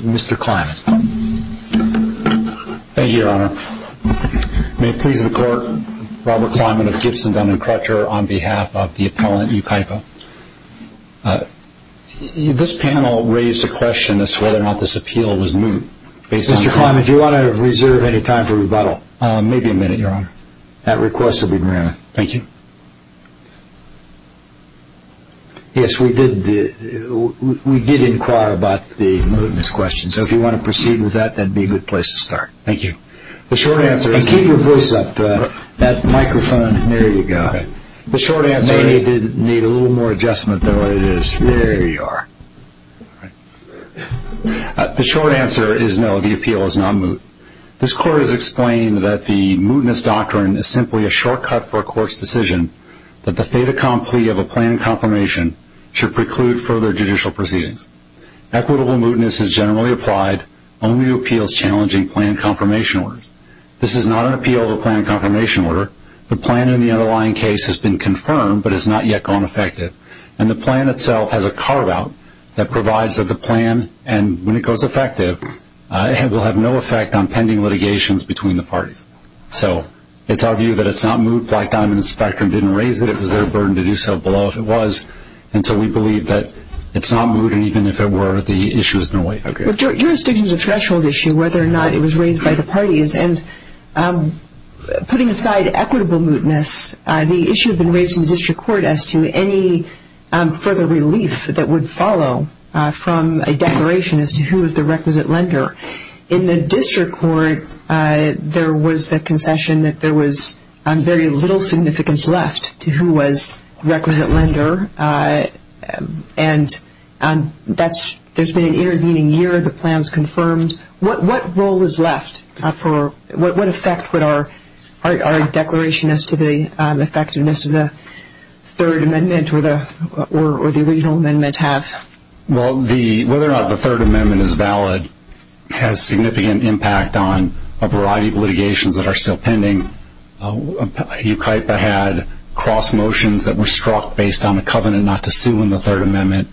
Mr. Kliman. Thank you, Your Honor. May it please the Court, Robert Kliman of Gibson, Dun & Crutcher, on behalf of the appellant, Yucaipa. This panel raised a question as to whether or not this appeal was moot. Mr. Kliman, do you want to reserve any time for rebuttal? Maybe a minute, Your Honor. That request will be granted. Thank you. Yes, we did inquire about the mootness question, so if you want to proceed with that, that would be a good place to start. Thank you. And keep your voice up. That microphone, there you go. The short answer is no, the appeal is not moot. This Court has explained that the mootness doctrine is simply a shortcut for a court's decision that the fait accompli of a plan and confirmation should preclude further judicial proceedings. Equitable mootness is generally applied only to appeals challenging plan and confirmation orders. This is not an appeal to a plan and confirmation order. The plan in the underlying case has been confirmed but has not yet gone effective. And the plan itself has a carve out that provides that the plan, and when it goes effective, will have no effect on pending litigations between the parties. So it's our view that it's not moot. Black Diamond and Spectrum didn't raise it. It was their burden to do so below if it was. And so we believe that it's not moot, and even if it were, the issue has been waived. Okay. With jurisdictions of threshold issue, whether or not it was raised by the parties, and putting aside equitable mootness, the issue has been raised by the court as to any further relief that would follow from a declaration as to who is the requisite lender. In the district court, there was the concession that there was very little significance left to who was the requisite lender. And that's, there's been an intervening year. The plan was confirmed. What role is left for, what effect would our declaration as to the effectiveness of the Third Amendment or the original amendment have? Well, the, whether or not the Third Amendment is valid has significant impact on a variety of litigations that are still pending. UKIPA had cross motions that were struck based on a covenant not to sue in the Third Amendment.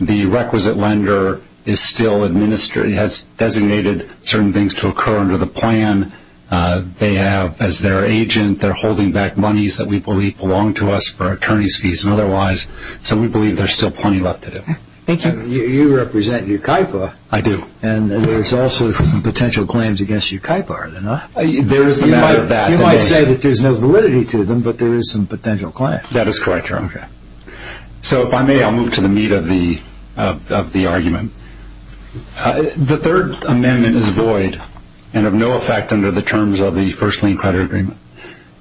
The requisite lender is still administering, has designated certain things to occur under the plan. They have, as their agent, they're holding back monies that we believe belong to us for attorney's fees and otherwise. So we believe there's still plenty left to do. Thank you. You represent UKIPA. I do. And there's also some potential claims against UKIPA, are there not? You might say that there's no validity to them, but there is some potential claims. That is correct, So if I may, I'll move to the meat of the, of the argument. The Third Amendment is void and of no effect under the terms of the First Lien Credit Agreement.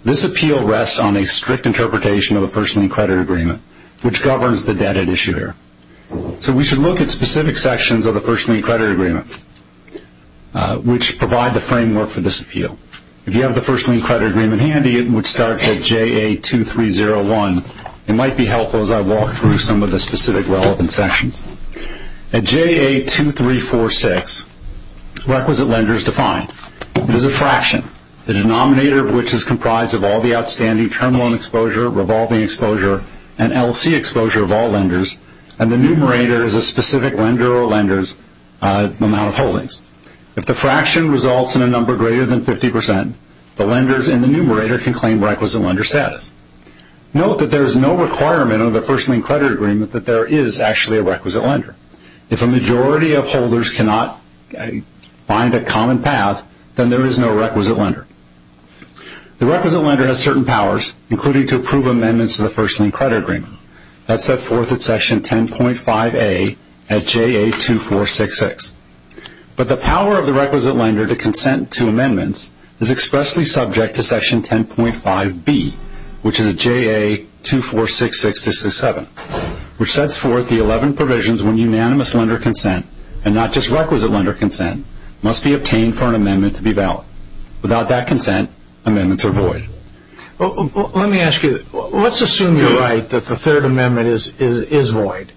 This appeal rests on a strict interpretation of the First Lien Credit Agreement, which governs the debt at issue here. So we should look at specific sections of the First Lien Credit Agreement, which provide the framework for this appeal. If you have the First Lien Credit Agreement handy, it would start at JA2301. It might be helpful as I walk through some of the specific relevant sections. At JA2346, requisite lender is defined. It is a fraction, the denominator of which is comprised of all the outstanding term loan exposure, revolving exposure, and LC exposure of all lenders, and the numerator is a specific lender or lender's amount of holdings. If the fraction results in a number greater than 50%, the numerator can claim requisite lender status. Note that there is no requirement under the First Lien Credit Agreement that there is actually a requisite lender. If a majority of holders cannot find a common path, then there is no requisite lender. The requisite lender has certain powers, including to approve amendments to the First Lien Credit Agreement. That's set forth at Section 10.5A at JA2466. But the power of the requisite lender to consent to amendments is expressly subject to Section 10.5B, which is at JA2466-67, which sets forth the 11 provisions when unanimous lender consent, and not just requisite lender consent, must be obtained for an amendment to be valid. Without that consent, amendments are void. Let me ask you, let's assume you're right that the third amendment is void.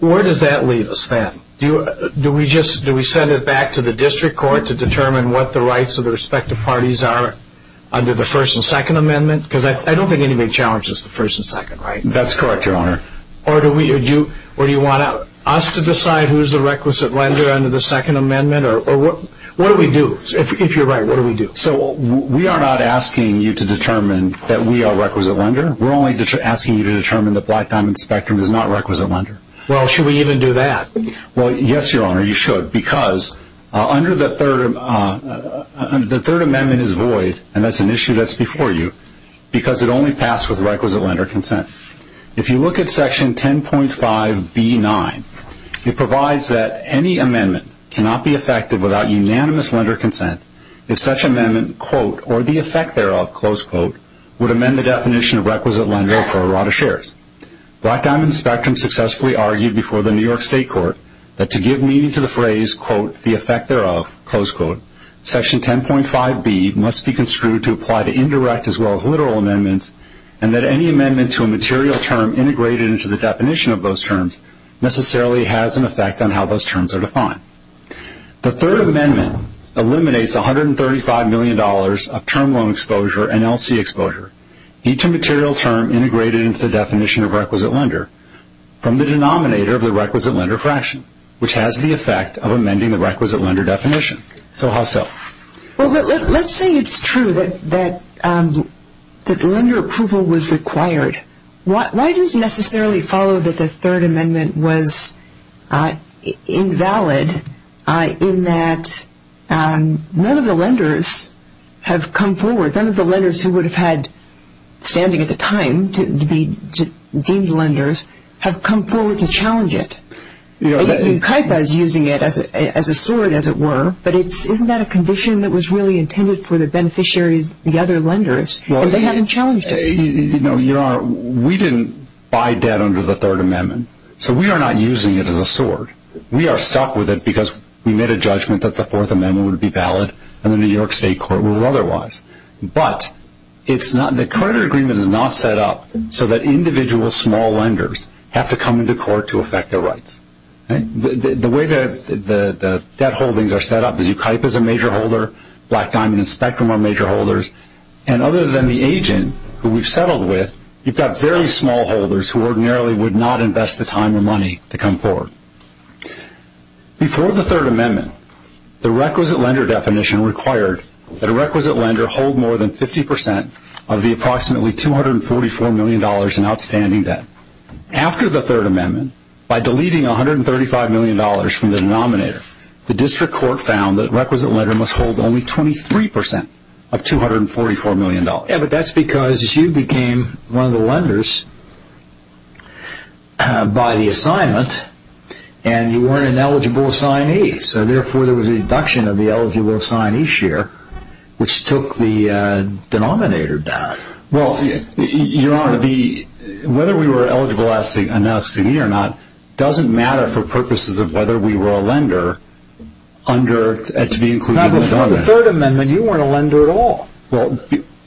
Where does that leave us then? Do we send it back to the district court to determine what the rights of the respective parties are under the first and second amendment? Because I don't think anybody challenges the first and second, right? That's correct, Your Honor. Or do you want us to decide who's the requisite lender under the second amendment? What do we do? If you're right, what do we do? We are not asking you to determine that we are requisite lender. We're only asking you to determine that Black Diamond Spectrum is not requisite lender. Well, should we even do that? Well, yes, Your Honor, you should. Because under the third amendment is void, and that's an issue that's before you, because it only passed with requisite lender consent. If you look at Section 10.5B-9, it provides that any amendment cannot be effective without unanimous lender consent if such amendment, quote, or the effect thereof, close quote, would amend the definition of requisite lender for a lot of shares. Black Diamond Spectrum successfully argued before the New York State Court that to give meaning to the phrase, quote, the effect thereof, close quote, Section 10.5B must be construed to apply to indirect as well as literal amendments, and that any amendment to a material term integrated into the definition of those terms necessarily has an effect on how those terms are defined. The third amendment eliminates $135 million of term loan exposure and LC exposure, each immaterial term integrated into the definition of requisite lender from the denominator of the requisite lender fraction, which has the effect of amending the requisite lender definition. So how so? Well, let's say it's true that lender approval was required. Why does it necessarily follow that the third amendment was invalid in that none of the lenders have had standing at the time to be deemed lenders have come forward to challenge it? You know, the UKIPA is using it as a sword, as it were, but isn't that a condition that was really intended for the beneficiaries, the other lenders, and they haven't challenged it? You know, we didn't buy debt under the third amendment, so we are not using it as a sword. We are stuck with it because we made a judgment that the fourth amendment would be valid and the New York State court ruled otherwise. But the credit agreement is not set up so that individual small lenders have to come into court to affect their rights. The way that the debt holdings are set up is UKIPA is a major holder, Black Diamond and Spectrum are major holders, and other than the agent who we have settled with, you've got very small holders who ordinarily would not invest the time or money to come forward. Before the third amendment, the requisite lender definition required that a requisite lender hold more than 50% of the approximately $244 million in outstanding debt. After the third amendment, by deleting $135 million from the denominator, the district court found that a requisite lender must hold only 23% of $244 million. Yeah, but that's because you became one of the lenders by the assignment and you weren't an eligible assignee, so therefore there was a reduction of the eligible assignee share, which took the denominator down. Well, your honor, whether we were eligible as an LLC or not doesn't matter for purposes of whether we were a lender under, to be included in the government. Now before the third amendment you weren't a lender at all. Well,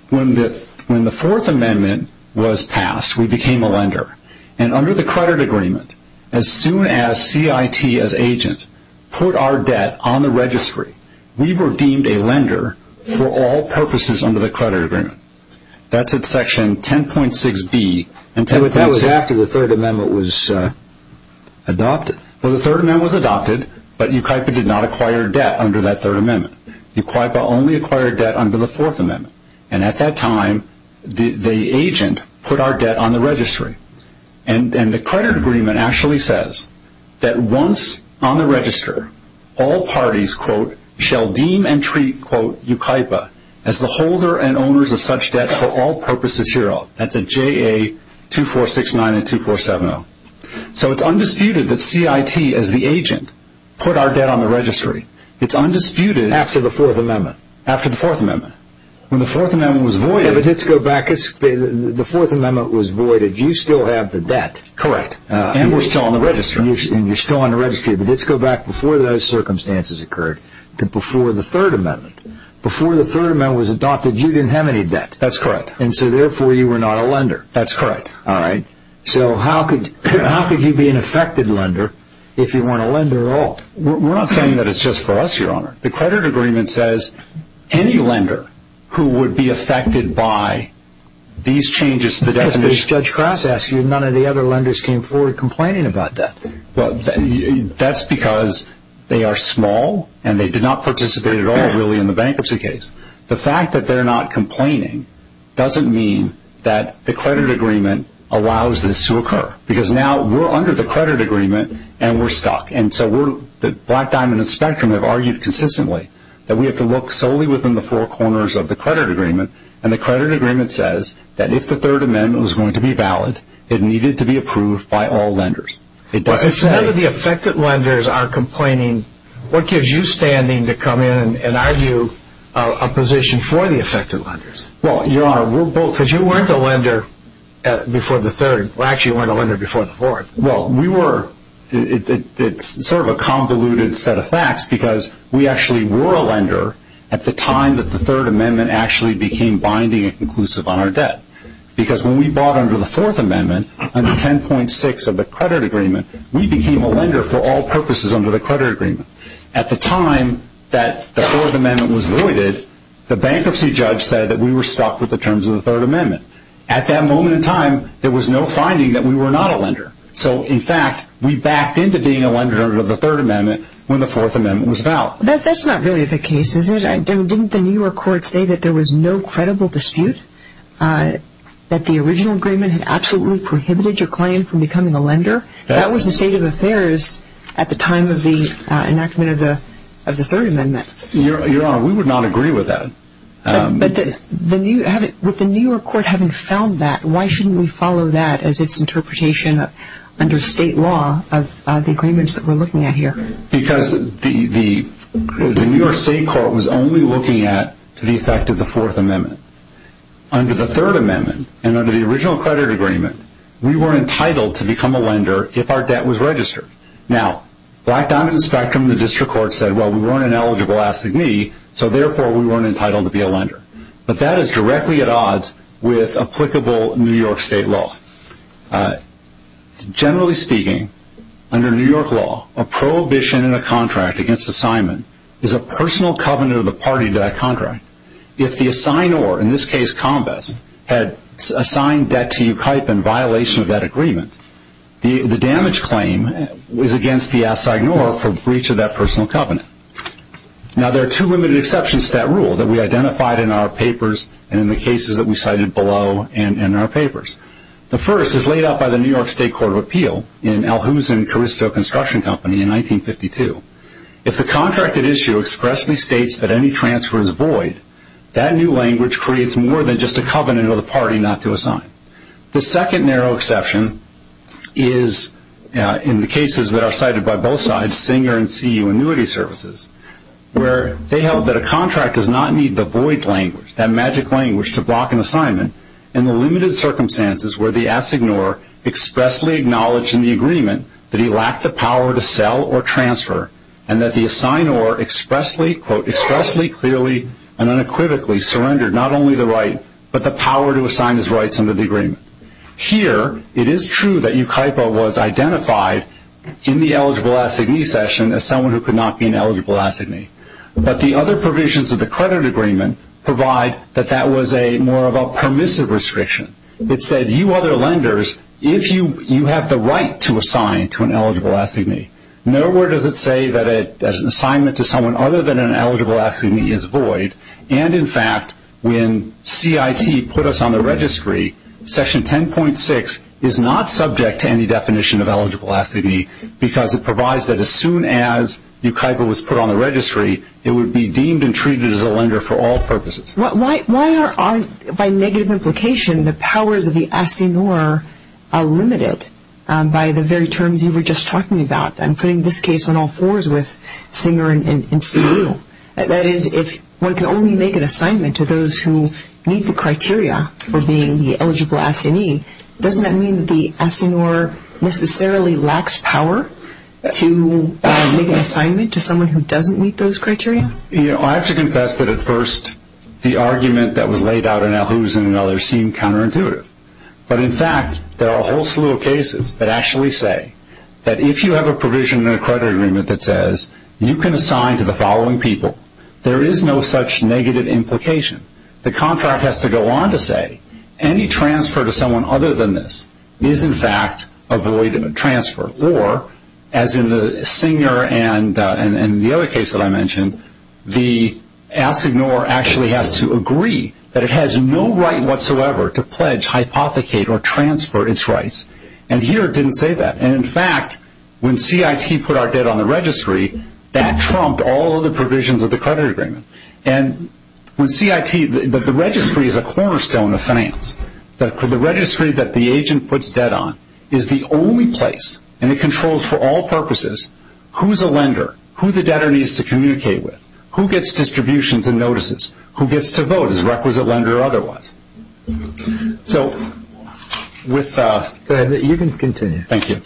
when the fourth amendment was passed, we became a lender, and under the credit agreement, as soon as CIT as agent put our debt on the registry, we were deemed a lender for all purposes under the credit agreement. That's at section 10.6b. But that was after the third amendment was adopted. Well, the third amendment was adopted, but UCIPA did not acquire debt under that third amendment. UCIPA only acquired debt under the fourth amendment, and at that time the agent put our debt on the registry. And the credit agreement actually says that once on the register, all parties quote, shall deem and treat quote, UCIPA as the holder and owners of such debt for all purposes hereof. That's at JA 2469 and 2470. So it's undisputed that CIT as the agent put our debt on the registry. It's undisputed after the fourth amendment. When the fourth amendment was voided, you still have the debt. Correct. And we're still on the registry. And you're still on the registry, but let's go back before those circumstances occurred to before the third amendment. Before the third amendment was adopted, you didn't have any debt. That's correct. And so therefore you were not a lender. That's correct. All right. So how could you be an affected lender if you weren't a lender at all? We're not saying that it's just for us, Your Honor. The credit agreement says any lender who would be affected by these changes to the definition. Judge Crass asked you, none of the other lenders came forward complaining about that. That's because they are small and they did not participate at all really in the allows this to occur. Because now we're under the credit agreement and we're stuck. And so the Black Diamond and Spectrum have argued consistently that we have to look solely within the four corners of the credit agreement. And the credit agreement says that if the third amendment was going to be valid, it needed to be approved by all lenders. It doesn't say... But if none of the affected lenders are complaining, what gives you standing to come in and argue a position for the affected lenders? Well, Your Honor, we're both... Because you weren't a lender before the third. Well, actually you weren't a lender before the fourth. Well, we were. It's sort of a convoluted set of facts because we actually were a lender at the time that the third amendment actually became binding and conclusive on our debt. Because when we bought under the fourth amendment, under 10.6 of the credit agreement, we became a lender for all purposes under the credit agreement. At the time that the fourth amendment was voided, the bankruptcy judge said that we were stuck with the terms of the third amendment. At that moment in time, there was no finding that we were not a lender. So, in fact, we backed into being a lender under the third amendment when the fourth amendment was vowed. That's not really the case, is it? Didn't the New York court say that there was no credible dispute? That the original agreement had absolutely prohibited your claim from becoming a lender? That was the state of affairs at the time of the enactment of the third amendment. Your Honor, we would not agree with that. With the New York court having found that, why shouldn't we follow that as its interpretation under state law of the agreements that we're looking at here? Because the New York state court was only looking at the effect of the fourth amendment. Under the third amendment and under the original credit agreement, we weren't entitled to become a lender if our debt was so, therefore, we weren't entitled to be a lender. But that is directly at odds with applicable New York state law. Generally speaking, under New York law, a prohibition in a contract against assignment is a personal covenant of the party to that contract. If the assignor, in this case Combess, had assigned debt to you in violation of that agreement, the damage claim was against the assignor for breach of that personal covenant. Now, there are two limited exceptions to that rule that we identified in our papers and in the cases that we cited below and in our papers. The first is laid out by the New York state court of appeal in Alhusen-Carristo Construction Company in 1952. If the contracted issue expressly states that any transfer is void, that new language creates more than just a covenant of the party not to assign. The second narrow exception is in the case where they held that a contract does not need the void language, that magic language, to block an assignment in the limited circumstances where the assignor expressly acknowledged in the agreement that he lacked the power to sell or transfer and that the assignor expressly, quote, expressly, clearly, and unequivocally surrendered not only the right but the power to assign his rights under the agreement. Here, it is true that Euclipo was identified in the eligible assignee, but the other provisions of the credit agreement provide that that was a more of a permissive restriction. It said, you other lenders, if you have the right to assign to an eligible assignee, nowhere does it say that an assignment to someone other than an eligible assignee is void. And, in fact, when CIT put us on the registry, section 10.6 is not subject to any definition of eligible assignee because it provides that as soon as Euclipo was put on the registry, it would be deemed and treated as a lender for all purposes. Why are, by negative implication, the powers of the assignor limited by the very terms you were just talking about? I'm putting this case on all fours with Singer and Seale. That is, if one can only make an assignment to those who meet the criteria for being the eligible assignee, doesn't that mean that the assignor necessarily lacks power to make an assignment to someone who doesn't meet those criteria? You know, I have to confess that, at first, the argument that was laid out in LHOOS and others seemed counterintuitive. But, in fact, there are a whole slew of cases that actually say that if you have a provision in a credit agreement that says, you can assign to the following people, there is no such negative implication. The contract has to go on to say, any transfer to someone other than this is, in fact, a void transfer. Or, as in the Singer and the other cases, the contract actually has to agree that it has no right whatsoever to pledge, hypothecate, or transfer its rights. And, here, it didn't say that. And, in fact, when CIT put our debt on the registry, that trumped all of the provisions of the credit agreement. And, when CIT, the registry is a cornerstone of finance. The registry that the agent puts debt on is the only place. And, it controls, for all purposes, who is a lender, who the debtor needs to communicate with, who gets distributions and notices, who gets to vote as a requisite lender or otherwise. So, with... Go ahead. You can continue. Thank you.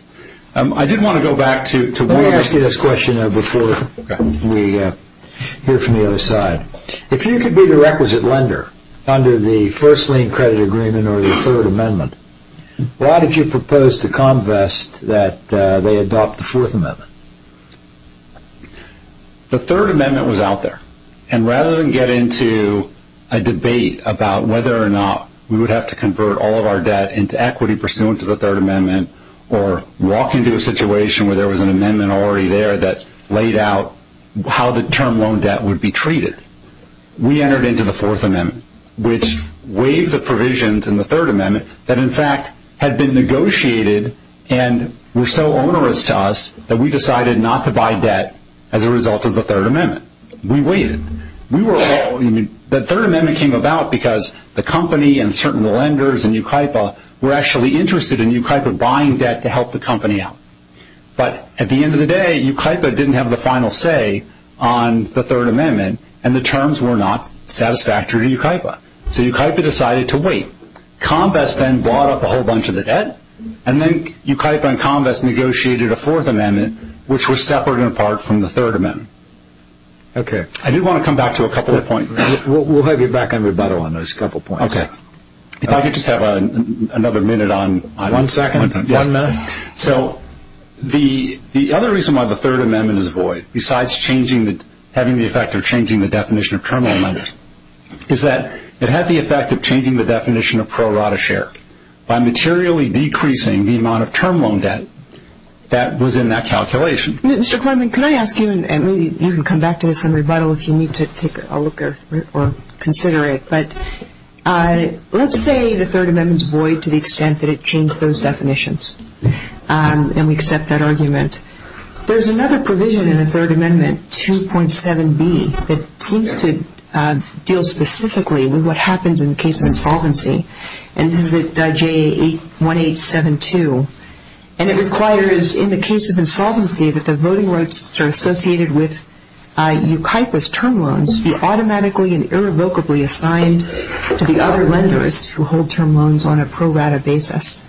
I did want to go back to... Let me ask you this question before we hear from the other side. If you could be the requisite lender under the First Amendment, would you propose to Convest that they adopt the Fourth Amendment? The Third Amendment was out there. And, rather than get into a debate about whether or not we would have to convert all of our debt into equity pursuant to the Third Amendment or walk into a situation where there was an amendment already there that laid out how the term loan debt would be treated, we entered into the Fourth Amendment, which waived the provisions in the Third Amendment. We negotiated and were so onerous to us that we decided not to buy debt as a result of the Third Amendment. We waited. The Third Amendment came about because the company and certain lenders in Yucaipa were actually interested in Yucaipa buying debt to help the company out. But, at the end of the day, Yucaipa didn't have the final say on the Third Amendment and the terms were not satisfactory to Yucaipa. So, Yucaipa decided to wait. Convest then bought up a whole lot of debt and then Yucaipa and Convest negotiated a Fourth Amendment, which was separate and apart from the Third Amendment. I do want to come back to a couple of points. We'll have you back on rebuttal on those couple of points. If I could just have another minute on… One second. One minute. So, the other reason why the Third Amendment is void, besides having the effect of changing the definition of term loan share by materially decreasing the amount of term loan debt that was in that calculation… Mr. Clement, can I ask you, and maybe you can come back to this on rebuttal if you need to take a look or consider it. But, let's say the Third Amendment is void to the extent that it changed those definitions and we accept that argument. There's another provision in the Third Amendment, 2.7b, that seems to deal specifically with what happens in the case of insolvency, and this is at JA 1872. And it requires in the case of insolvency that the voting rights that are associated with Yucaipa's term loans be automatically and irrevocably assigned to the other lenders who hold term loans on a pro rata basis.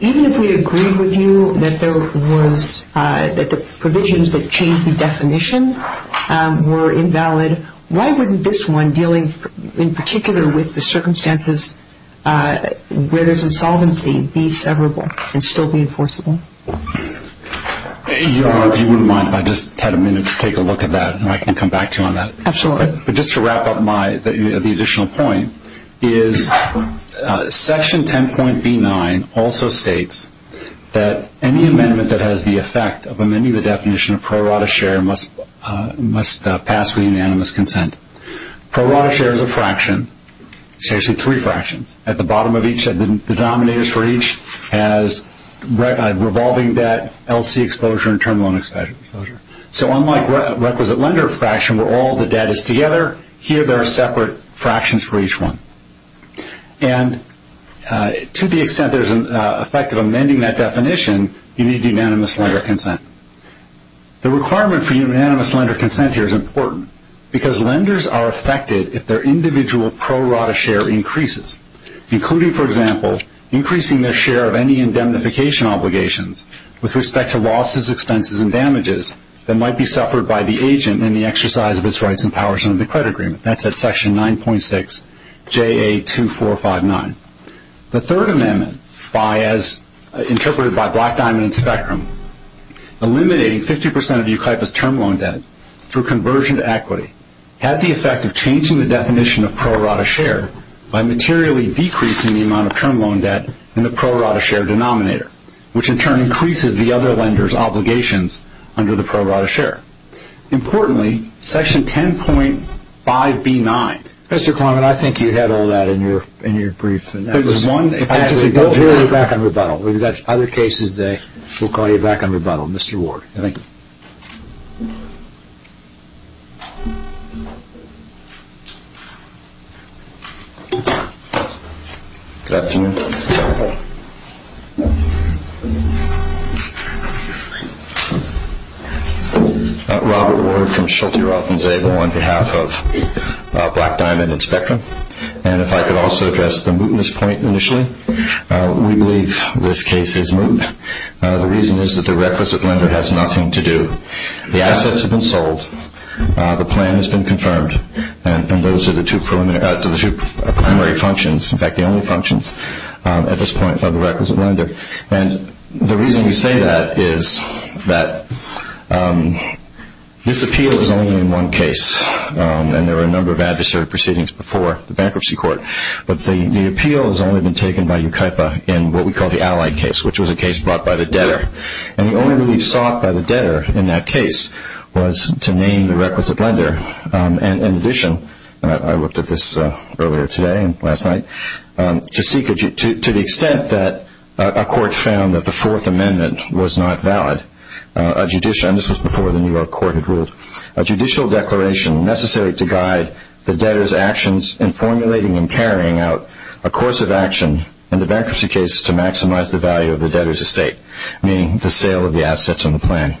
Even if we agreed with you that the provisions that changed the definition were invalid, why wouldn't this one, dealing in particular with the circumstances where there's insolvency, be severable and still be enforceable? If you wouldn't mind if I just had a minute to take a look at that, and I can come back to you on that. Absolutely. But just to wrap up the additional point, is Section 10.b.9 also states that any amendment that has the effect of amending the definition of pro rata share must pass with unanimous consent. Pro rata share is a fraction. It's actually three fractions. At the bottom of each, the denominator for each has revolving debt, LC exposure, and term loan exposure. So unlike requisite lender fraction where all the debt is together, here there are separate fractions for each one. And to the extent there's an effect of amending that definition, you need unanimous lender consent. The requirement for unanimous lender consent here is important because lenders are affected if their individual pro rata share increases, including, for example, increasing their share of any indemnification obligations with respect to losses, expenses, and damages that might be suffered by the agent in the exercise of its rights and powers under the credit agreement. That's at Section 9.6 JA2459. The third amendment, interpreted by Black, Diamond, and Spectrum, eliminating 50% of the UCIPAS term loan debt through conversion to equity has the effect of changing the definition of pro rata share by materially decreasing the amount of term loan debt in the pro rata share denominator, which in turn increases the other lender's obligations under the pro rata share. Importantly, Section 10.5B9... Mr. Klineman, I think you had all that in your brief. There's one... Actually, don't hear it back on rebuttal. We've got other cases that we'll call you back on rebuttal. Mr. Ward. Thank you. Good afternoon. Robert Ward from Schulte, Roth, and Zabel on behalf of Black, Diamond, and Spectrum. And if I could also address the mootness point initially. We believe this case is moot. The reason is that the requisite lender has nothing to do. The assets have been sold. The plan has been confirmed. And those are the two primary functions, in fact, the only functions at this point of the requisite lender. And the reason we say that is that this appeal is only in one case. And there were a number of adversary proceedings before the bankruptcy court. But the appeal has only been taken by UKIPA in what we call the Allied case, which was a case brought by the debtor. And the only relief sought by the debtor in that case was to name the requisite lender. In addition, I looked at this earlier today and last night, to the extent that a court found that the Fourth Amendment was not valid, a judicial declaration necessary to guide the debtor's actions in formulating and carrying out a course of action in the bankruptcy case to maximize the value of the debtor's estate, meaning the sale of the assets in the plan.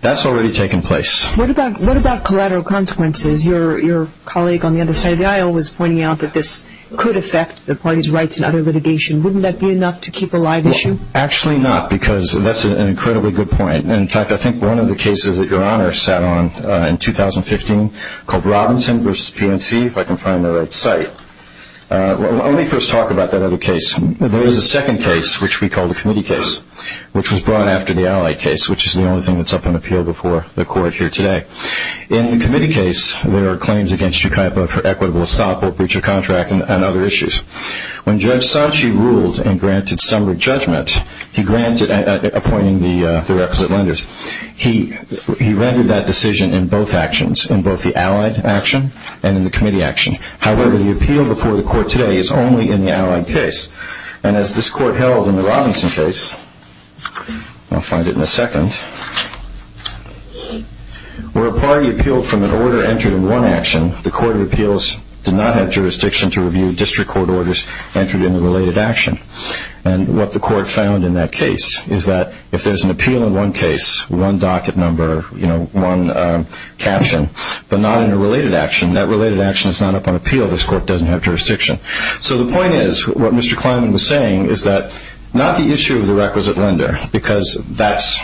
That's already taken place. What about collateral consequences? Your colleague on the other side of the aisle was pointing out that this could affect the party's rights in other litigation. Wouldn't that be enough to keep alive the issue? Actually not, because that's an incredibly good point. In fact, I think one of the cases that Your Honor sat on in 2015 called Robinson v. PNC, if I can find the right site. Let me first talk about that other case. There is a second case, which we call the committee case, which was brought after the Allied case, which is the only thing that's up on appeal before the Court here today. In the committee case, there are claims against you, Kaiba, for equitable estoppel, breach of contract, and other issues. When Judge Sanchi ruled and granted summary judgment, he granted, appointing the requisite lenders, he rendered that decision in both actions, in both the Allied action and in the committee action. However, the appeal before the Court today is only in the Allied case. And as this Court held in the Robinson case, I'll find it in a second, where a party appealed from an order entered in one action, the Court of Appeals did not have jurisdiction to review district court orders entered in a related action. And what the Court found in that case is that if there's an appeal in one case, one docket number, one caption, but not in a related action, that related action is not up on appeal, this Court doesn't have jurisdiction. So the point is, what Mr. Kleinman was saying, is that not the issue of the requisite lender, because that's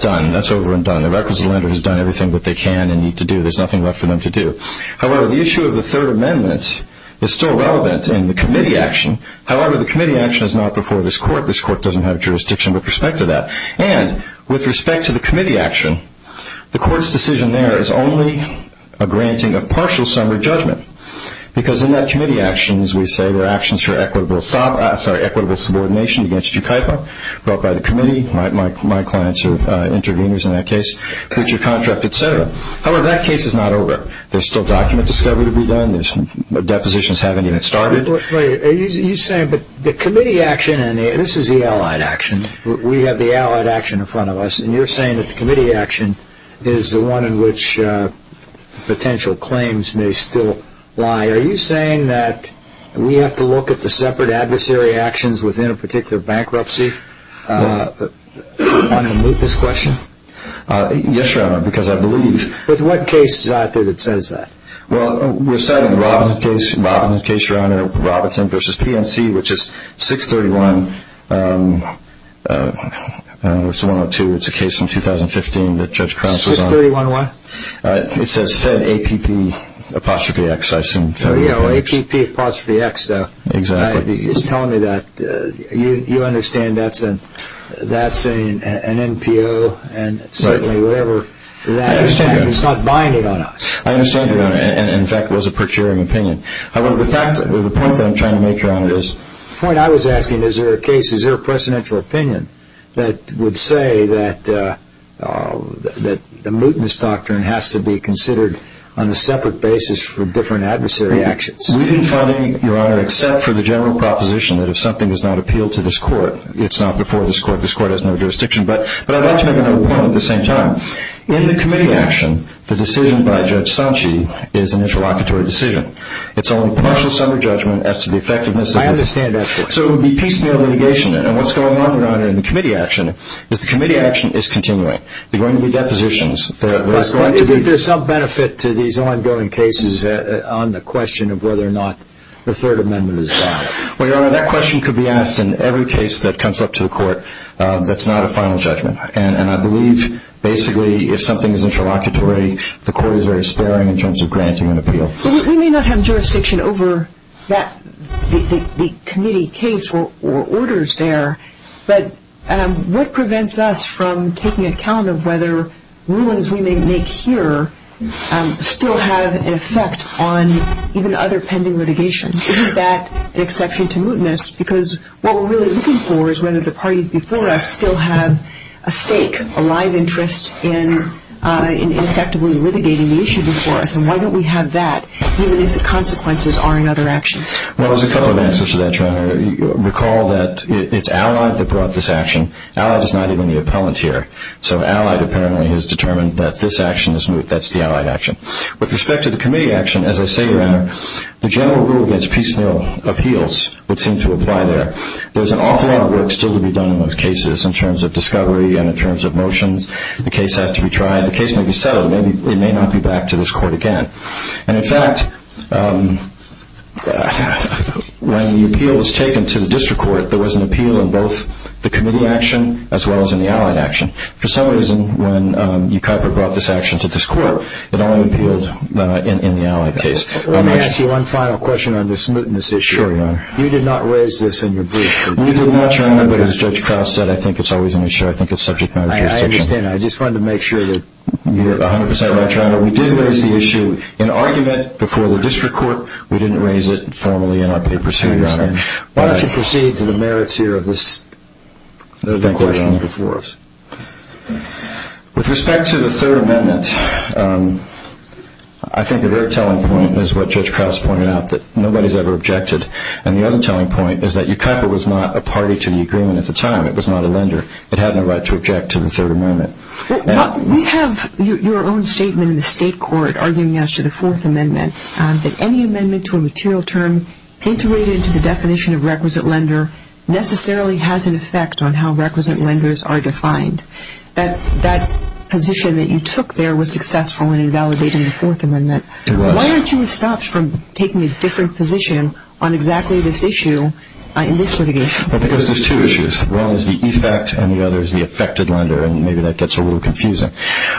done, that's over and done. The requisite lender has done everything that they can and need to do. There's nothing left for them to do. However, the issue of the Third Amendment is still relevant in the committee action. However, the committee action is not before this Court. This Court doesn't have jurisdiction with respect to that. And with respect to the committee action, the Court's decision there is only a granting of partial summary judgment, because in that committee action, as we say, there are actions for equitable subordination against your KIPA, brought by the committee, my clients are interveners in that case, future contract, et cetera. However, that case is not over. There's still document discovery to be done. There's depositions haven't even started. You're saying that the committee action, and this is the allied action, we have the allied action in front of us, and you're saying that the committee action is the one in which potential claims may still lie. Are you saying that we have to look at the separate adversary actions within a particular bankruptcy? Do you want to unmute this question? Yes, Your Honor, because I believe. But what case is out there that says that? Well, we're citing the Robinson case, Your Honor, Robinson v. PNC, which is 631, I don't know if it's 102, it's a case from 2015 that Judge Crouse was on. 631 what? It says fed APPX, I assume. Oh, yeah, APPX, though. Exactly. He's telling me that. You understand that's an NPO, and certainly whatever that is, it's not binding on us. I understand, Your Honor, and in fact it was a procuring opinion. However, the point that I'm trying to make, Your Honor, is... The point I was asking, is there a case, is there a precedential opinion, that would say that the mootness doctrine has to be considered on a separate basis for different adversary actions? We didn't find any, Your Honor, except for the general proposition that if something does not appeal to this court, it's not before this court, this court has no jurisdiction. But I'd like to make another point at the same time. In the committee action, the decision by Judge Sanchi is an interlocutory decision. It's only a partial summary judgment as to the effectiveness... I understand that. So it would be piecemeal litigation, and what's going on, Your Honor, in the committee action, is the committee action is continuing. There are going to be depositions. But isn't there some benefit to these ongoing cases on the question of whether or not the Third Amendment is valid? Well, Your Honor, that question could be asked in every case that comes up to the court that's not a final judgment, and I believe basically if something is interlocutory, the court is very sparing in terms of granting an appeal. We may not have jurisdiction over the committee case or orders there, but what prevents us from taking account of whether rulings we may make here still have an effect on even other pending litigation? Isn't that an exception to mootness? Because what we're really looking for is whether the parties before us still have a stake, a live interest in effectively litigating the issue before us, and why don't we have that even if the consequences are in other actions? Well, there's a couple of answers to that, Your Honor. Recall that it's Allied that brought this action. Allied is not even the appellant here. So Allied apparently has determined that this action is moot. That's the Allied action. With respect to the committee action, as I say, Your Honor, the general rule against piecemeal appeals would seem to apply there. There's an awful lot of work still to be done in those cases in terms of discovery and in terms of motions. The case has to be tried. The case may be settled. It may not be back to this court again. And, in fact, when the appeal was taken to the district court, there was an appeal in both the committee action as well as in the Allied action. For some reason, when E. Kuyper brought this action to this court, it only appealed in the Allied case. Let me ask you one final question on this mootness issue. Sure, Your Honor. You did not raise this in your brief. We did not, Your Honor, but as Judge Krauss said, I think it's always an issue. I think it's subject matter jurisdiction. I understand. I just wanted to make sure that you're 100 percent right, Your Honor. We did raise the issue in argument before the district court. We didn't raise it formally in our papers here, Your Honor. I understand. Why don't you proceed to the merits here of this question before us? With respect to the Third Amendment, I think a very telling point is what Judge Krauss pointed out, that nobody has ever objected. And the other telling point is that E. Kuyper was not a party to the agreement at the time. It was not a lender. It had no right to object to the Third Amendment. We have your own statement in the state court arguing as to the Fourth Amendment that any amendment to a material term integrated into the definition of requisite lender necessarily has an effect on how requisite lenders are defined. That position that you took there was successful in invalidating the Fourth Amendment. It was. Why aren't you stopped from taking a different position on exactly this issue in this litigation? Well, because there's two issues. One is the effect and the other is the affected lender, and maybe that gets a little confusing.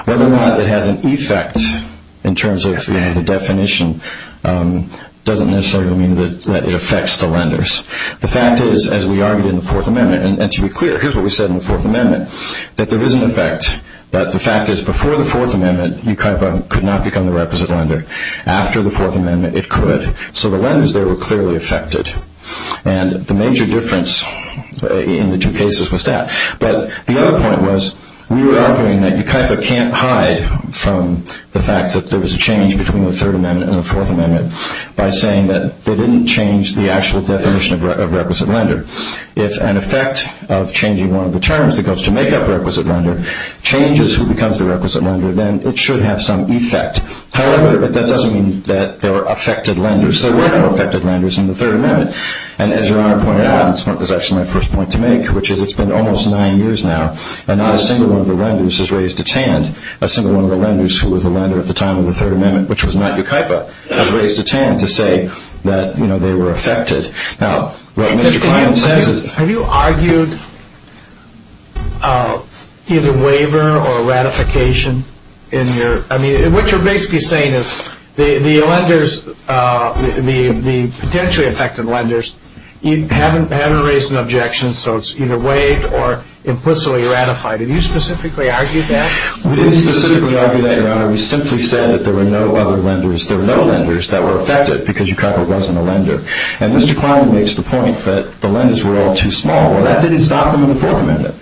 Whether or not it has an effect in terms of the definition doesn't necessarily mean that it affects the lenders. The fact is, as we argued in the Fourth Amendment, and to be clear, here's what we said in the Fourth Amendment, that there is an effect. But the fact is before the Fourth Amendment, E. Kuyper could not become the requisite lender. After the Fourth Amendment, it could. So the lenders there were clearly affected. And the major difference in the two cases was that. But the other point was we were arguing that E. Kuyper can't hide from the fact that there was a change between the Third Amendment and the Fourth Amendment by saying that they didn't change the actual definition of requisite lender. If an effect of changing one of the terms that goes to make up requisite lender changes who becomes the requisite lender, then it should have some effect. However, that doesn't mean that there were affected lenders. There were no affected lenders in the Third Amendment. And as Your Honor pointed out, and this is actually my first point to make, which is it's been almost nine years now and not a single one of the lenders has raised its hand. Not a single one of the lenders who was a lender at the time of the Third Amendment, which was not E. Kuyper, has raised a hand to say that they were affected. Now, what Mr. Klein says is – Have you argued either waiver or ratification in your – I mean, what you're basically saying is the lenders, the potentially affected lenders, haven't raised an objection, so it's either waived or implicitly ratified. Have you specifically argued that? We didn't specifically argue that, Your Honor. We simply said that there were no other lenders. There were no lenders that were affected because E. Kuyper wasn't a lender. And Mr. Klein makes the point that the lenders were all too small. Well, that didn't stop them in the Fourth Amendment.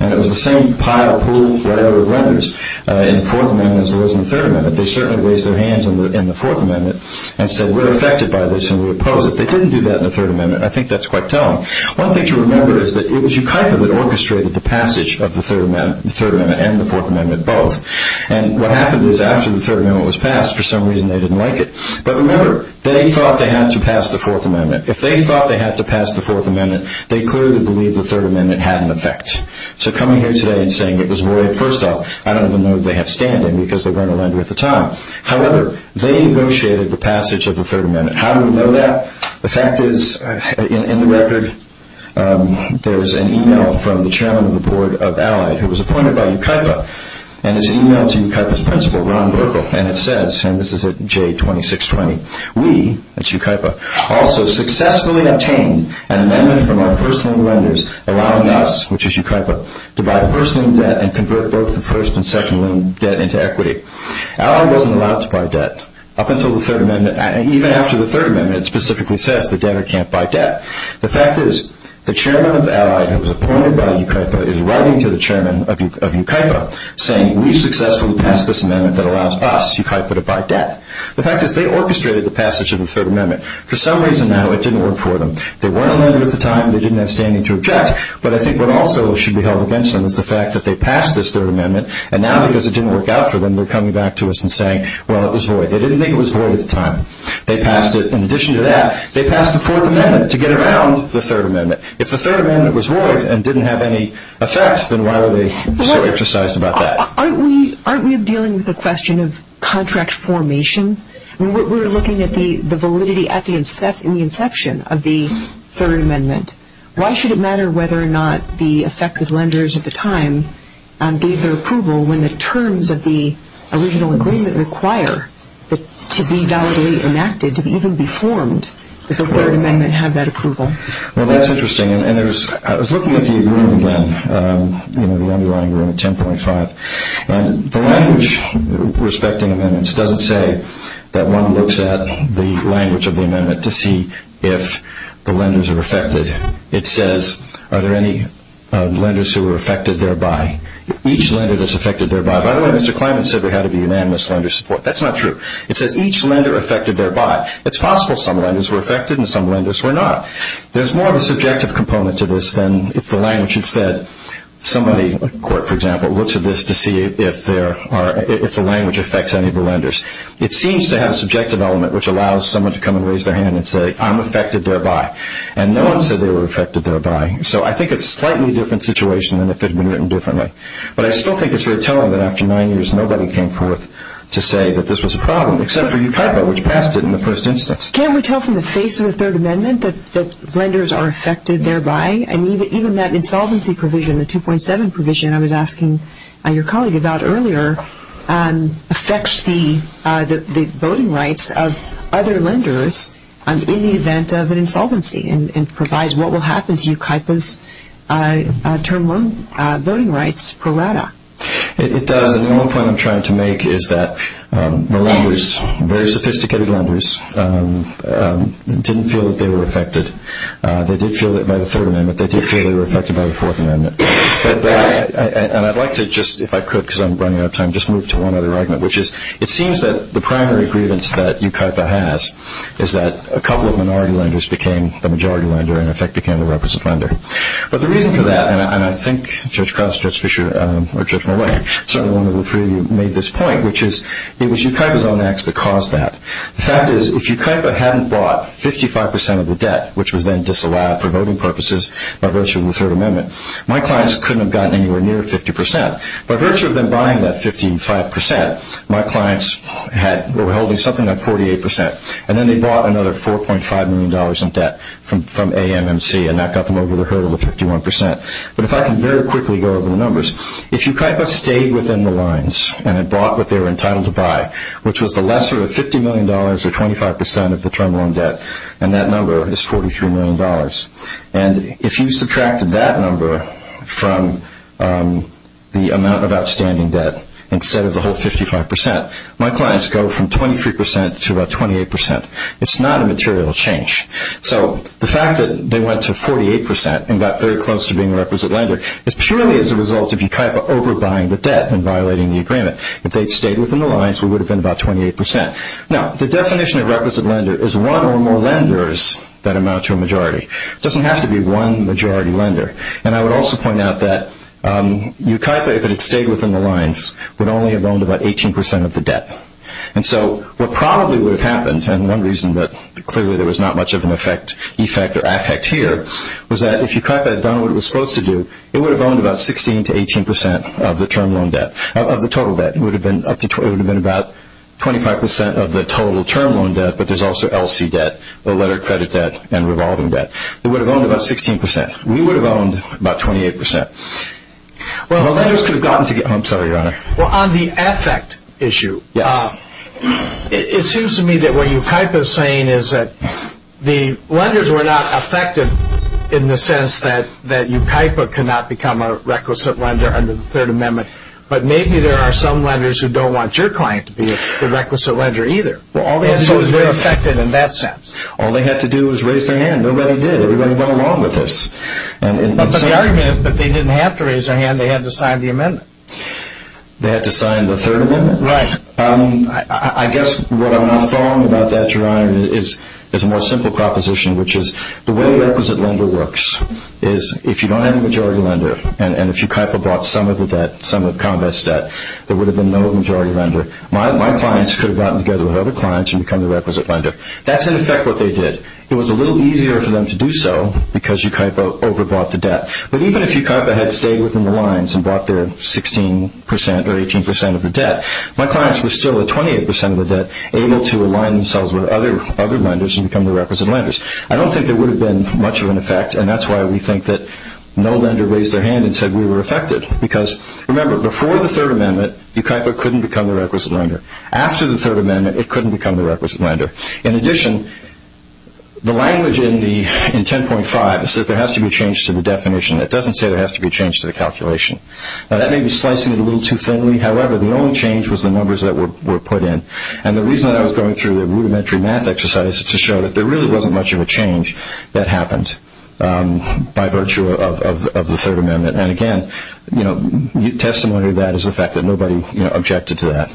And it was the same pile of pool right over the lenders in the Fourth Amendment as it was in the Third Amendment. They certainly raised their hands in the Fourth Amendment and said, we're affected by this and we oppose it. They didn't do that in the Third Amendment. I think that's quite telling. One thing to remember is that it was E. Kuyper that orchestrated the passage of the Third Amendment and the Fourth Amendment both. And what happened is after the Third Amendment was passed, for some reason they didn't like it. But remember, they thought they had to pass the Fourth Amendment. If they thought they had to pass the Fourth Amendment, they clearly believed the Third Amendment had an effect. So coming here today and saying it was waived, first off, I don't even know that they have standing because they weren't a lender at the time. However, they negotiated the passage of the Third Amendment. How do we know that? The fact is, in the record, there's an e-mail from the chairman of the board of Allied who was appointed by E. Kuyper, and it's an e-mail to E. Kuyper's principal, Ron Burkle, and it says, and this is at J2620, we, that's E. Kuyper, also successfully obtained an amendment from our first-name lenders, allowing us, which is E. Kuyper, to buy first-name debt and convert both the first- and second-name debt into equity. Allied wasn't allowed to buy debt. Up until the Third Amendment, and even after the Third Amendment, it specifically says that debtor can't buy debt. The fact is, the chairman of Allied who was appointed by E. Kuyper is writing to the chairman of E. Kuyper saying, we successfully passed this amendment that allows us, E. Kuyper, to buy debt. The fact is, they orchestrated the passage of the Third Amendment. For some reason, though, it didn't work for them. They weren't a lender at the time, they didn't have standing to object, but I think what also should be held against them is the fact that they passed this Third Amendment, and now because it didn't work out for them, they're coming back to us and saying, well, it was void. They didn't think it was void at the time. They passed it. In addition to that, they passed the Fourth Amendment to get around the Third Amendment. If the Third Amendment was void and didn't have any effect, then why are they so intercised about that? Aren't we dealing with the question of contract formation? We're looking at the validity at the inception of the Third Amendment. Why should it matter whether or not the effective lenders at the time gave their approval when the terms of the original agreement require to be validly enacted, to even be formed, that the Third Amendment have that approval? Well, that's interesting. I was looking at the agreement again, the underlying agreement, 10.5. The language respecting amendments doesn't say that one looks at the language of the amendment to see if the lenders are affected. It says, are there any lenders who are affected thereby? Each lender that's affected thereby. By the way, Mr. Kleinman said there had to be unanimous lender support. That's not true. It says each lender affected thereby. It's possible some lenders were affected and some lenders were not. There's more of a subjective component to this than if the language had said somebody, a court, for example, looks at this to see if the language affects any of the lenders. It seems to have a subjective element which allows someone to come and raise their hand and say, I'm affected thereby. And no one said they were affected thereby. So I think it's a slightly different situation than if it had been written differently. But I still think it's very telling that after nine years nobody came forth to say that this was a problem, except for UKIPA, which passed it in the first instance. Can we tell from the face of the Third Amendment that lenders are affected thereby? And even that insolvency provision, the 2.7 provision I was asking your colleague about earlier, affects the voting rights of other lenders in the event of an insolvency and provides what will happen to UKIPA's voting rights pro rata. It does. And the only point I'm trying to make is that the lenders, very sophisticated lenders, didn't feel that they were affected. They did feel that by the Third Amendment. They did feel they were affected by the Fourth Amendment. And I'd like to just, if I could because I'm running out of time, just move to one other argument, which is it seems that the primary grievance that UKIPA has is that a couple of minority lenders became the majority lender and, in effect, became the representative lender. But the reason for that, and I think Judge Cross, Judge Fischer, or Judge Millay, certainly one of the three of you made this point, which is it was UKIPA's own acts that caused that. The fact is if UKIPA hadn't bought 55 percent of the debt, which was then disallowed for voting purposes by virtue of the Third Amendment, my clients couldn't have gotten anywhere near 50 percent. By virtue of them buying that 55 percent, my clients were holding something like 48 percent. And then they bought another $4.5 million in debt from AMMC, and that got them over the hurdle of 51 percent. But if I can very quickly go over the numbers, if UKIPA stayed within the lines and had bought what they were entitled to buy, which was the lesser of $50 million or 25 percent of the term loan debt, and that number is $43 million, and if you subtracted that number from the amount of outstanding debt instead of the whole 55 percent, my clients go from 23 percent to about 28 percent. It's not a material change. So the fact that they went to 48 percent and got very close to being a requisite lender is purely as a result of UKIPA overbuying the debt and violating the agreement. If they had stayed within the lines, we would have been about 28 percent. Now, the definition of requisite lender is one or more lenders that amount to a majority. It doesn't have to be one majority lender. And I would also point out that UKIPA, if it had stayed within the lines, would only have owned about 18 percent of the debt. And so what probably would have happened, and one reason that clearly there was not much of an effect or affect here, was that if UKIPA had done what it was supposed to do, it would have owned about 16 to 18 percent of the term loan debt, of the total debt. It would have been about 25 percent of the total term loan debt, but there's also LC debt, the letter credit debt, and revolving debt. It would have owned about 16 percent. We would have owned about 28 percent. Well, the lenders could have gotten to get home. I'm sorry, Your Honor. Well, on the affect issue, it seems to me that what UKIPA is saying is that the lenders were not affected in the sense that UKIPA could not become a requisite lender under the Third Amendment, but maybe there are some lenders who don't want your client to be a requisite lender either. And so they're affected in that sense. All they had to do was raise their hand. Nobody did. Everybody went along with this. But the argument is that they didn't have to raise their hand. They had to sign the amendment. They had to sign the Third Amendment? Right. I guess what I'm not fond about that, Your Honor, is a more simple proposition, which is the way a requisite lender works is if you don't have a majority lender and if UKIPA bought some of the debt, some of ComBest's debt, there would have been no majority lender. My clients could have gotten together with other clients and become the requisite lender. That's, in effect, what they did. It was a little easier for them to do so because UKIPA overbought the debt. But even if UKIPA had stayed within the lines and bought their 16% or 18% of the debt, my clients were still at 28% of the debt able to align themselves with other lenders and become the requisite lenders. I don't think there would have been much of an effect, and that's why we think that no lender raised their hand and said we were affected. Because, remember, before the Third Amendment, UKIPA couldn't become the requisite lender. After the Third Amendment, it couldn't become the requisite lender. In addition, the language in 10.5 says there has to be a change to the definition. It doesn't say there has to be a change to the calculation. Now, that may be slicing it a little too thinly. However, the only change was the numbers that were put in. And the reason that I was going through the rudimentary math exercise is to show that there really wasn't much of a change that happened by virtue of the Third Amendment. And, again, testimony to that is the fact that nobody objected to that.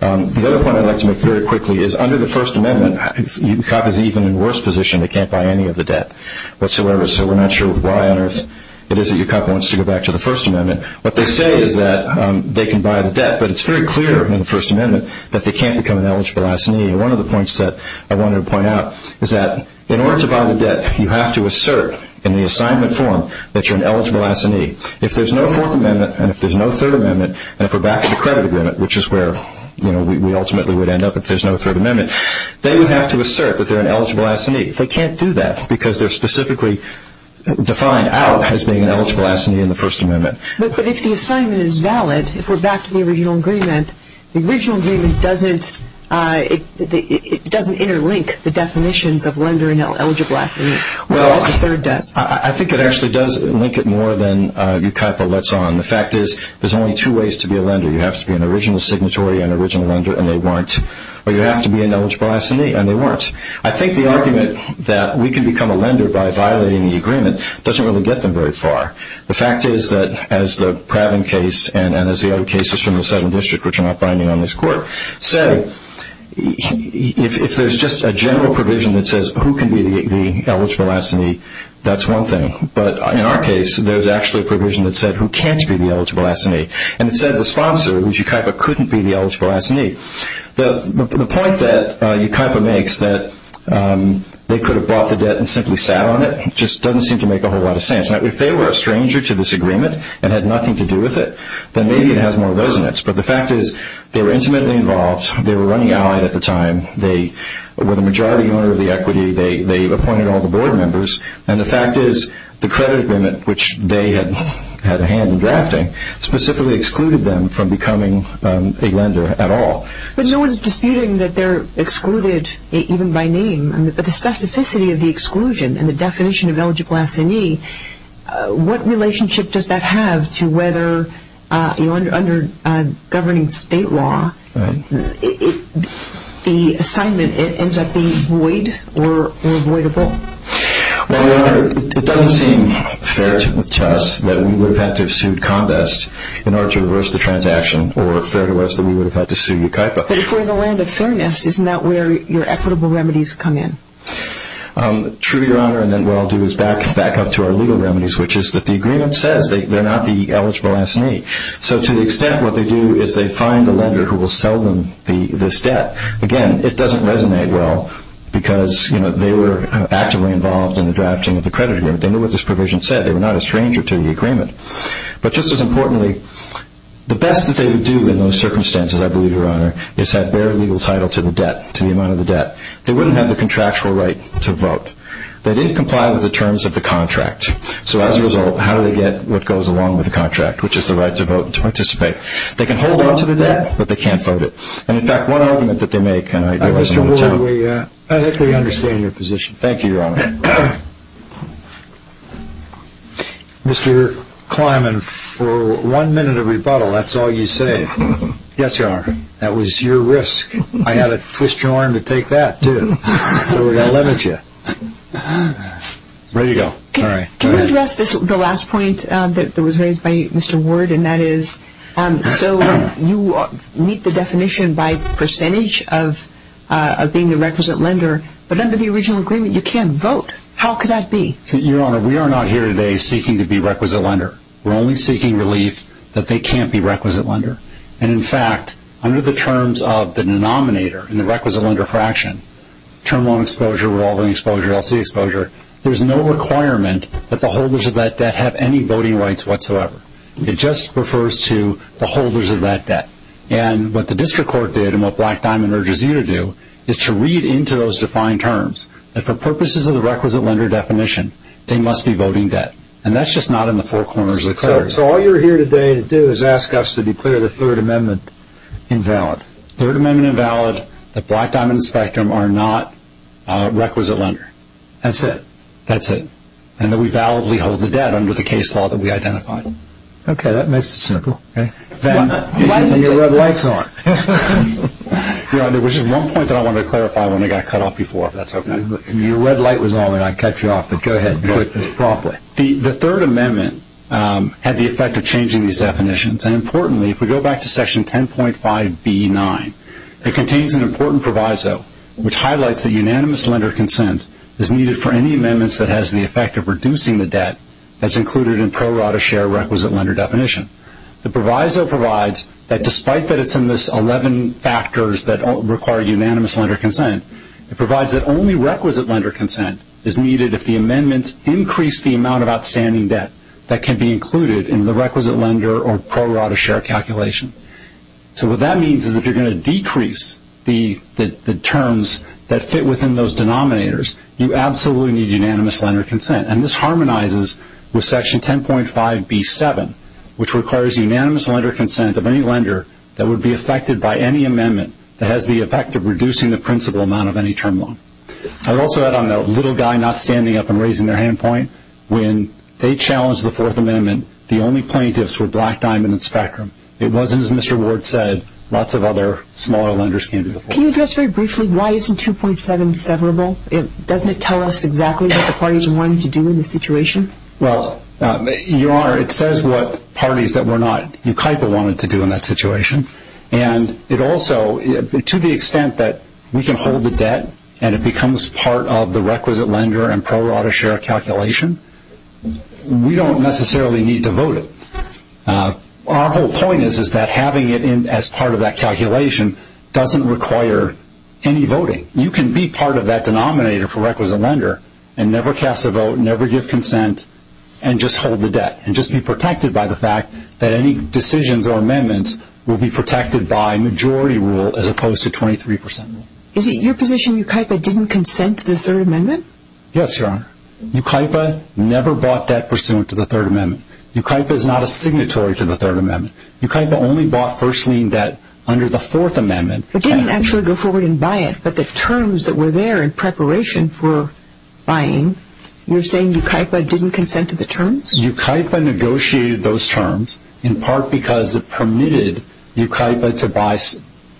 The other point I'd like to make very quickly is under the First Amendment, UKIPA is even in a worse position. They can't buy any of the debt whatsoever, so we're not sure why on earth it is that UKIPA wants to go back to the First Amendment. What they say is that they can buy the debt, but it's very clear in the First Amendment that they can't become an eligible S&E. And one of the points that I wanted to point out is that in order to buy the debt, you have to assert in the assignment form that you're an eligible S&E. If there's no Fourth Amendment and if there's no Third Amendment, and if we're back to the credit agreement, which is where we ultimately would end up if there's no Third Amendment, they would have to assert that they're an eligible S&E. They can't do that because they're specifically defined out as being an eligible S&E in the First Amendment. But if the assignment is valid, if we're back to the original agreement, the original agreement doesn't interlink the definitions of lender and eligible S&E, whereas the Third does. I think it actually does link it more than UKIPA lets on. The fact is there's only two ways to be a lender. You have to be an original signatory, an original lender, and they weren't. Or you have to be an eligible S&E, and they weren't. I think the argument that we can become a lender by violating the agreement doesn't really get them very far. The fact is that, as the Pravin case and as the other cases from the 7th District, which are not binding on this Court, so if there's just a general provision that says who can be the eligible S&E, that's one thing. But in our case, there's actually a provision that said who can't be the eligible S&E. And it said the sponsor, which is UKIPA, couldn't be the eligible S&E. The point that UKIPA makes that they could have bought the debt and simply sat on it just doesn't seem to make a whole lot of sense. If they were a stranger to this agreement and had nothing to do with it, then maybe it has more of those in it. But the fact is they were intimately involved. They were running Allied at the time. They were the majority owner of the equity. They appointed all the board members. And the fact is the credit agreement, which they had a hand in drafting, specifically excluded them from becoming a lender at all. But no one's disputing that they're excluded even by name. But the specificity of the exclusion and the definition of eligible S&E, what relationship does that have to whether under governing state law the assignment ends up being void or voidable? Well, Your Honor, it doesn't seem fair to us that we would have had to have sued Condest in order to reverse the transaction or fair to us that we would have had to sue UKIPA. But if we're in the land of fairness, isn't that where your equitable remedies come in? True, Your Honor. And then what I'll do is back up to our legal remedies, which is that the agreement says they're not the eligible S&E. So to the extent what they do is they find a lender who will sell them this debt, again, it doesn't resonate well because they were actively involved in the drafting of the credit agreement. They knew what this provision said. They were not a stranger to the agreement. But just as importantly, the best that they would do in those circumstances, I believe, Your Honor, is have bare legal title to the debt, to the amount of the debt. They wouldn't have the contractual right to vote. They didn't comply with the terms of the contract. So as a result, how do they get what goes along with the contract, which is the right to vote and to participate? They can hold on to the debt, but they can't vote it. And, in fact, one argument that they make, and I give this one to Tom. Mr. Ward, I think we understand your position. Thank you, Your Honor. Mr. Kleiman, for one minute of rebuttal, that's all you say. Yes, Your Honor. That was your risk. I had to twist your arm to take that, too. So we're going to limit you. Ready to go. All right. Can you address the last point that was raised by Mr. Ward? So you meet the definition by percentage of being the requisite lender. But under the original agreement, you can't vote. How could that be? Your Honor, we are not here today seeking to be requisite lender. We're only seeking relief that they can't be requisite lender. And, in fact, under the terms of the denominator in the requisite lender fraction, term loan exposure, revolving exposure, L.C. exposure, there's no requirement that the holders of that debt have any voting rights whatsoever. It just refers to the holders of that debt. And what the district court did and what Black Diamond urges you to do is to read into those defined terms that for purposes of the requisite lender definition, they must be voting debt. And that's just not in the four corners of the clarity. So all you're here today to do is ask us to declare the Third Amendment invalid. Third Amendment invalid, that Black Diamond and Spectrum are not requisite lender. That's it. That's it. And that we validly hold the debt under the case law that we identified. Okay. That makes it simple. And your red light's on. Your Honor, there was just one point that I wanted to clarify when I got cut off before. If that's okay. Your red light was on and I cut you off, but go ahead and put this properly. The Third Amendment had the effect of changing these definitions. And, importantly, if we go back to Section 10.5B9, it contains an important proviso which highlights that unanimous lender consent is needed for any amendments that has the effect of reducing the debt that's included in pro rata share requisite lender definition. The proviso provides that despite that it's in this 11 factors that require unanimous lender consent, it provides that only requisite lender consent is needed if the amendments increase the amount of outstanding debt that can be included in the requisite lender or pro rata share calculation. So what that means is if you're going to decrease the terms that fit within those denominators, you absolutely need unanimous lender consent. And this harmonizes with Section 10.5B7, which requires unanimous lender consent of any lender that would be affected by any amendment that has the effect of reducing the principal amount of any term loan. I'd also add on that little guy not standing up and raising their hand point. When they challenged the Fourth Amendment, the only plaintiffs were Black, Diamond, and Spectrum. It wasn't, as Mr. Ward said, lots of other smaller lenders came to the fore. Can you address very briefly why isn't 2.7 severable? Doesn't it tell us exactly what the parties wanted to do in this situation? Well, Your Honor, it says what parties that were not UKIPA wanted to do in that situation. And it also, to the extent that we can hold the debt and it becomes part of the requisite lender and pro rata share calculation, we don't necessarily need to vote it. Our whole point is that having it as part of that calculation doesn't require any voting. You can be part of that denominator for requisite lender and never cast a vote, never give consent, and just hold the debt and just be protected by the fact that any decisions or amendments will be protected by majority rule as opposed to 23 percent rule. Is it your position UKIPA didn't consent to the Third Amendment? Yes, Your Honor. UKIPA never bought debt pursuant to the Third Amendment. UKIPA is not a signatory to the Third Amendment. UKIPA only bought first lien debt under the Fourth Amendment. It didn't actually go forward and buy it, but the terms that were there in preparation for buying, you're saying UKIPA didn't consent to the terms? UKIPA negotiated those terms in part because it permitted UKIPA to buy,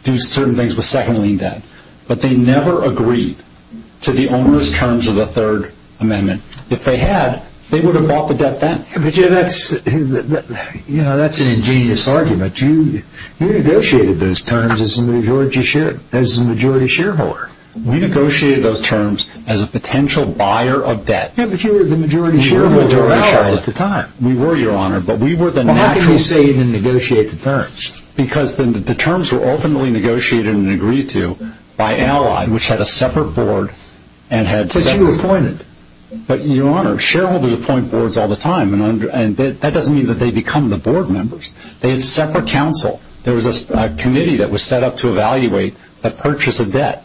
do certain things with second lien debt. But they never agreed to the owner's terms of the Third Amendment. If they had, they would have bought the debt then. Yeah, but that's an ingenious argument. You negotiated those terms as a majority shareholder. We negotiated those terms as a potential buyer of debt. Yeah, but you were the majority shareholder of Allied at the time. We were, Your Honor, but we were the natural... Well, how can you say you didn't negotiate the terms? Because the terms were ultimately negotiated and agreed to by Allied, which had a separate board and had separate... But you appointed. But, Your Honor, shareholders appoint boards all the time, and that doesn't mean that they become the board members. They have separate counsel. There was a committee that was set up to evaluate the purchase of debt.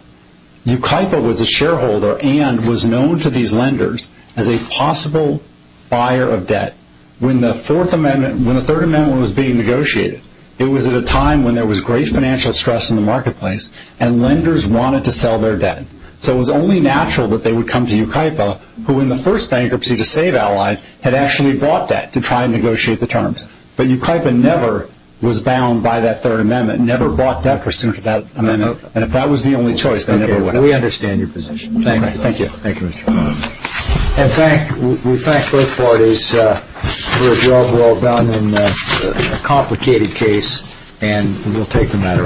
UKIPA was a shareholder and was known to these lenders as a possible buyer of debt. When the Third Amendment was being negotiated, it was at a time when there was great financial stress in the marketplace, and lenders wanted to sell their debt. So it was only natural that they would come to UKIPA, who, in the first bankruptcy to save Allied, had actually bought debt to try and negotiate the terms. But UKIPA never was bound by that Third Amendment, never bought debt pursuant to that amendment, and if that was the only choice, they never would have. Okay, we understand your position. Thank you. Thank you, Mr. Connolly. And we thank both parties for a job well done in a complicated case, and we'll take the matter under scrutiny.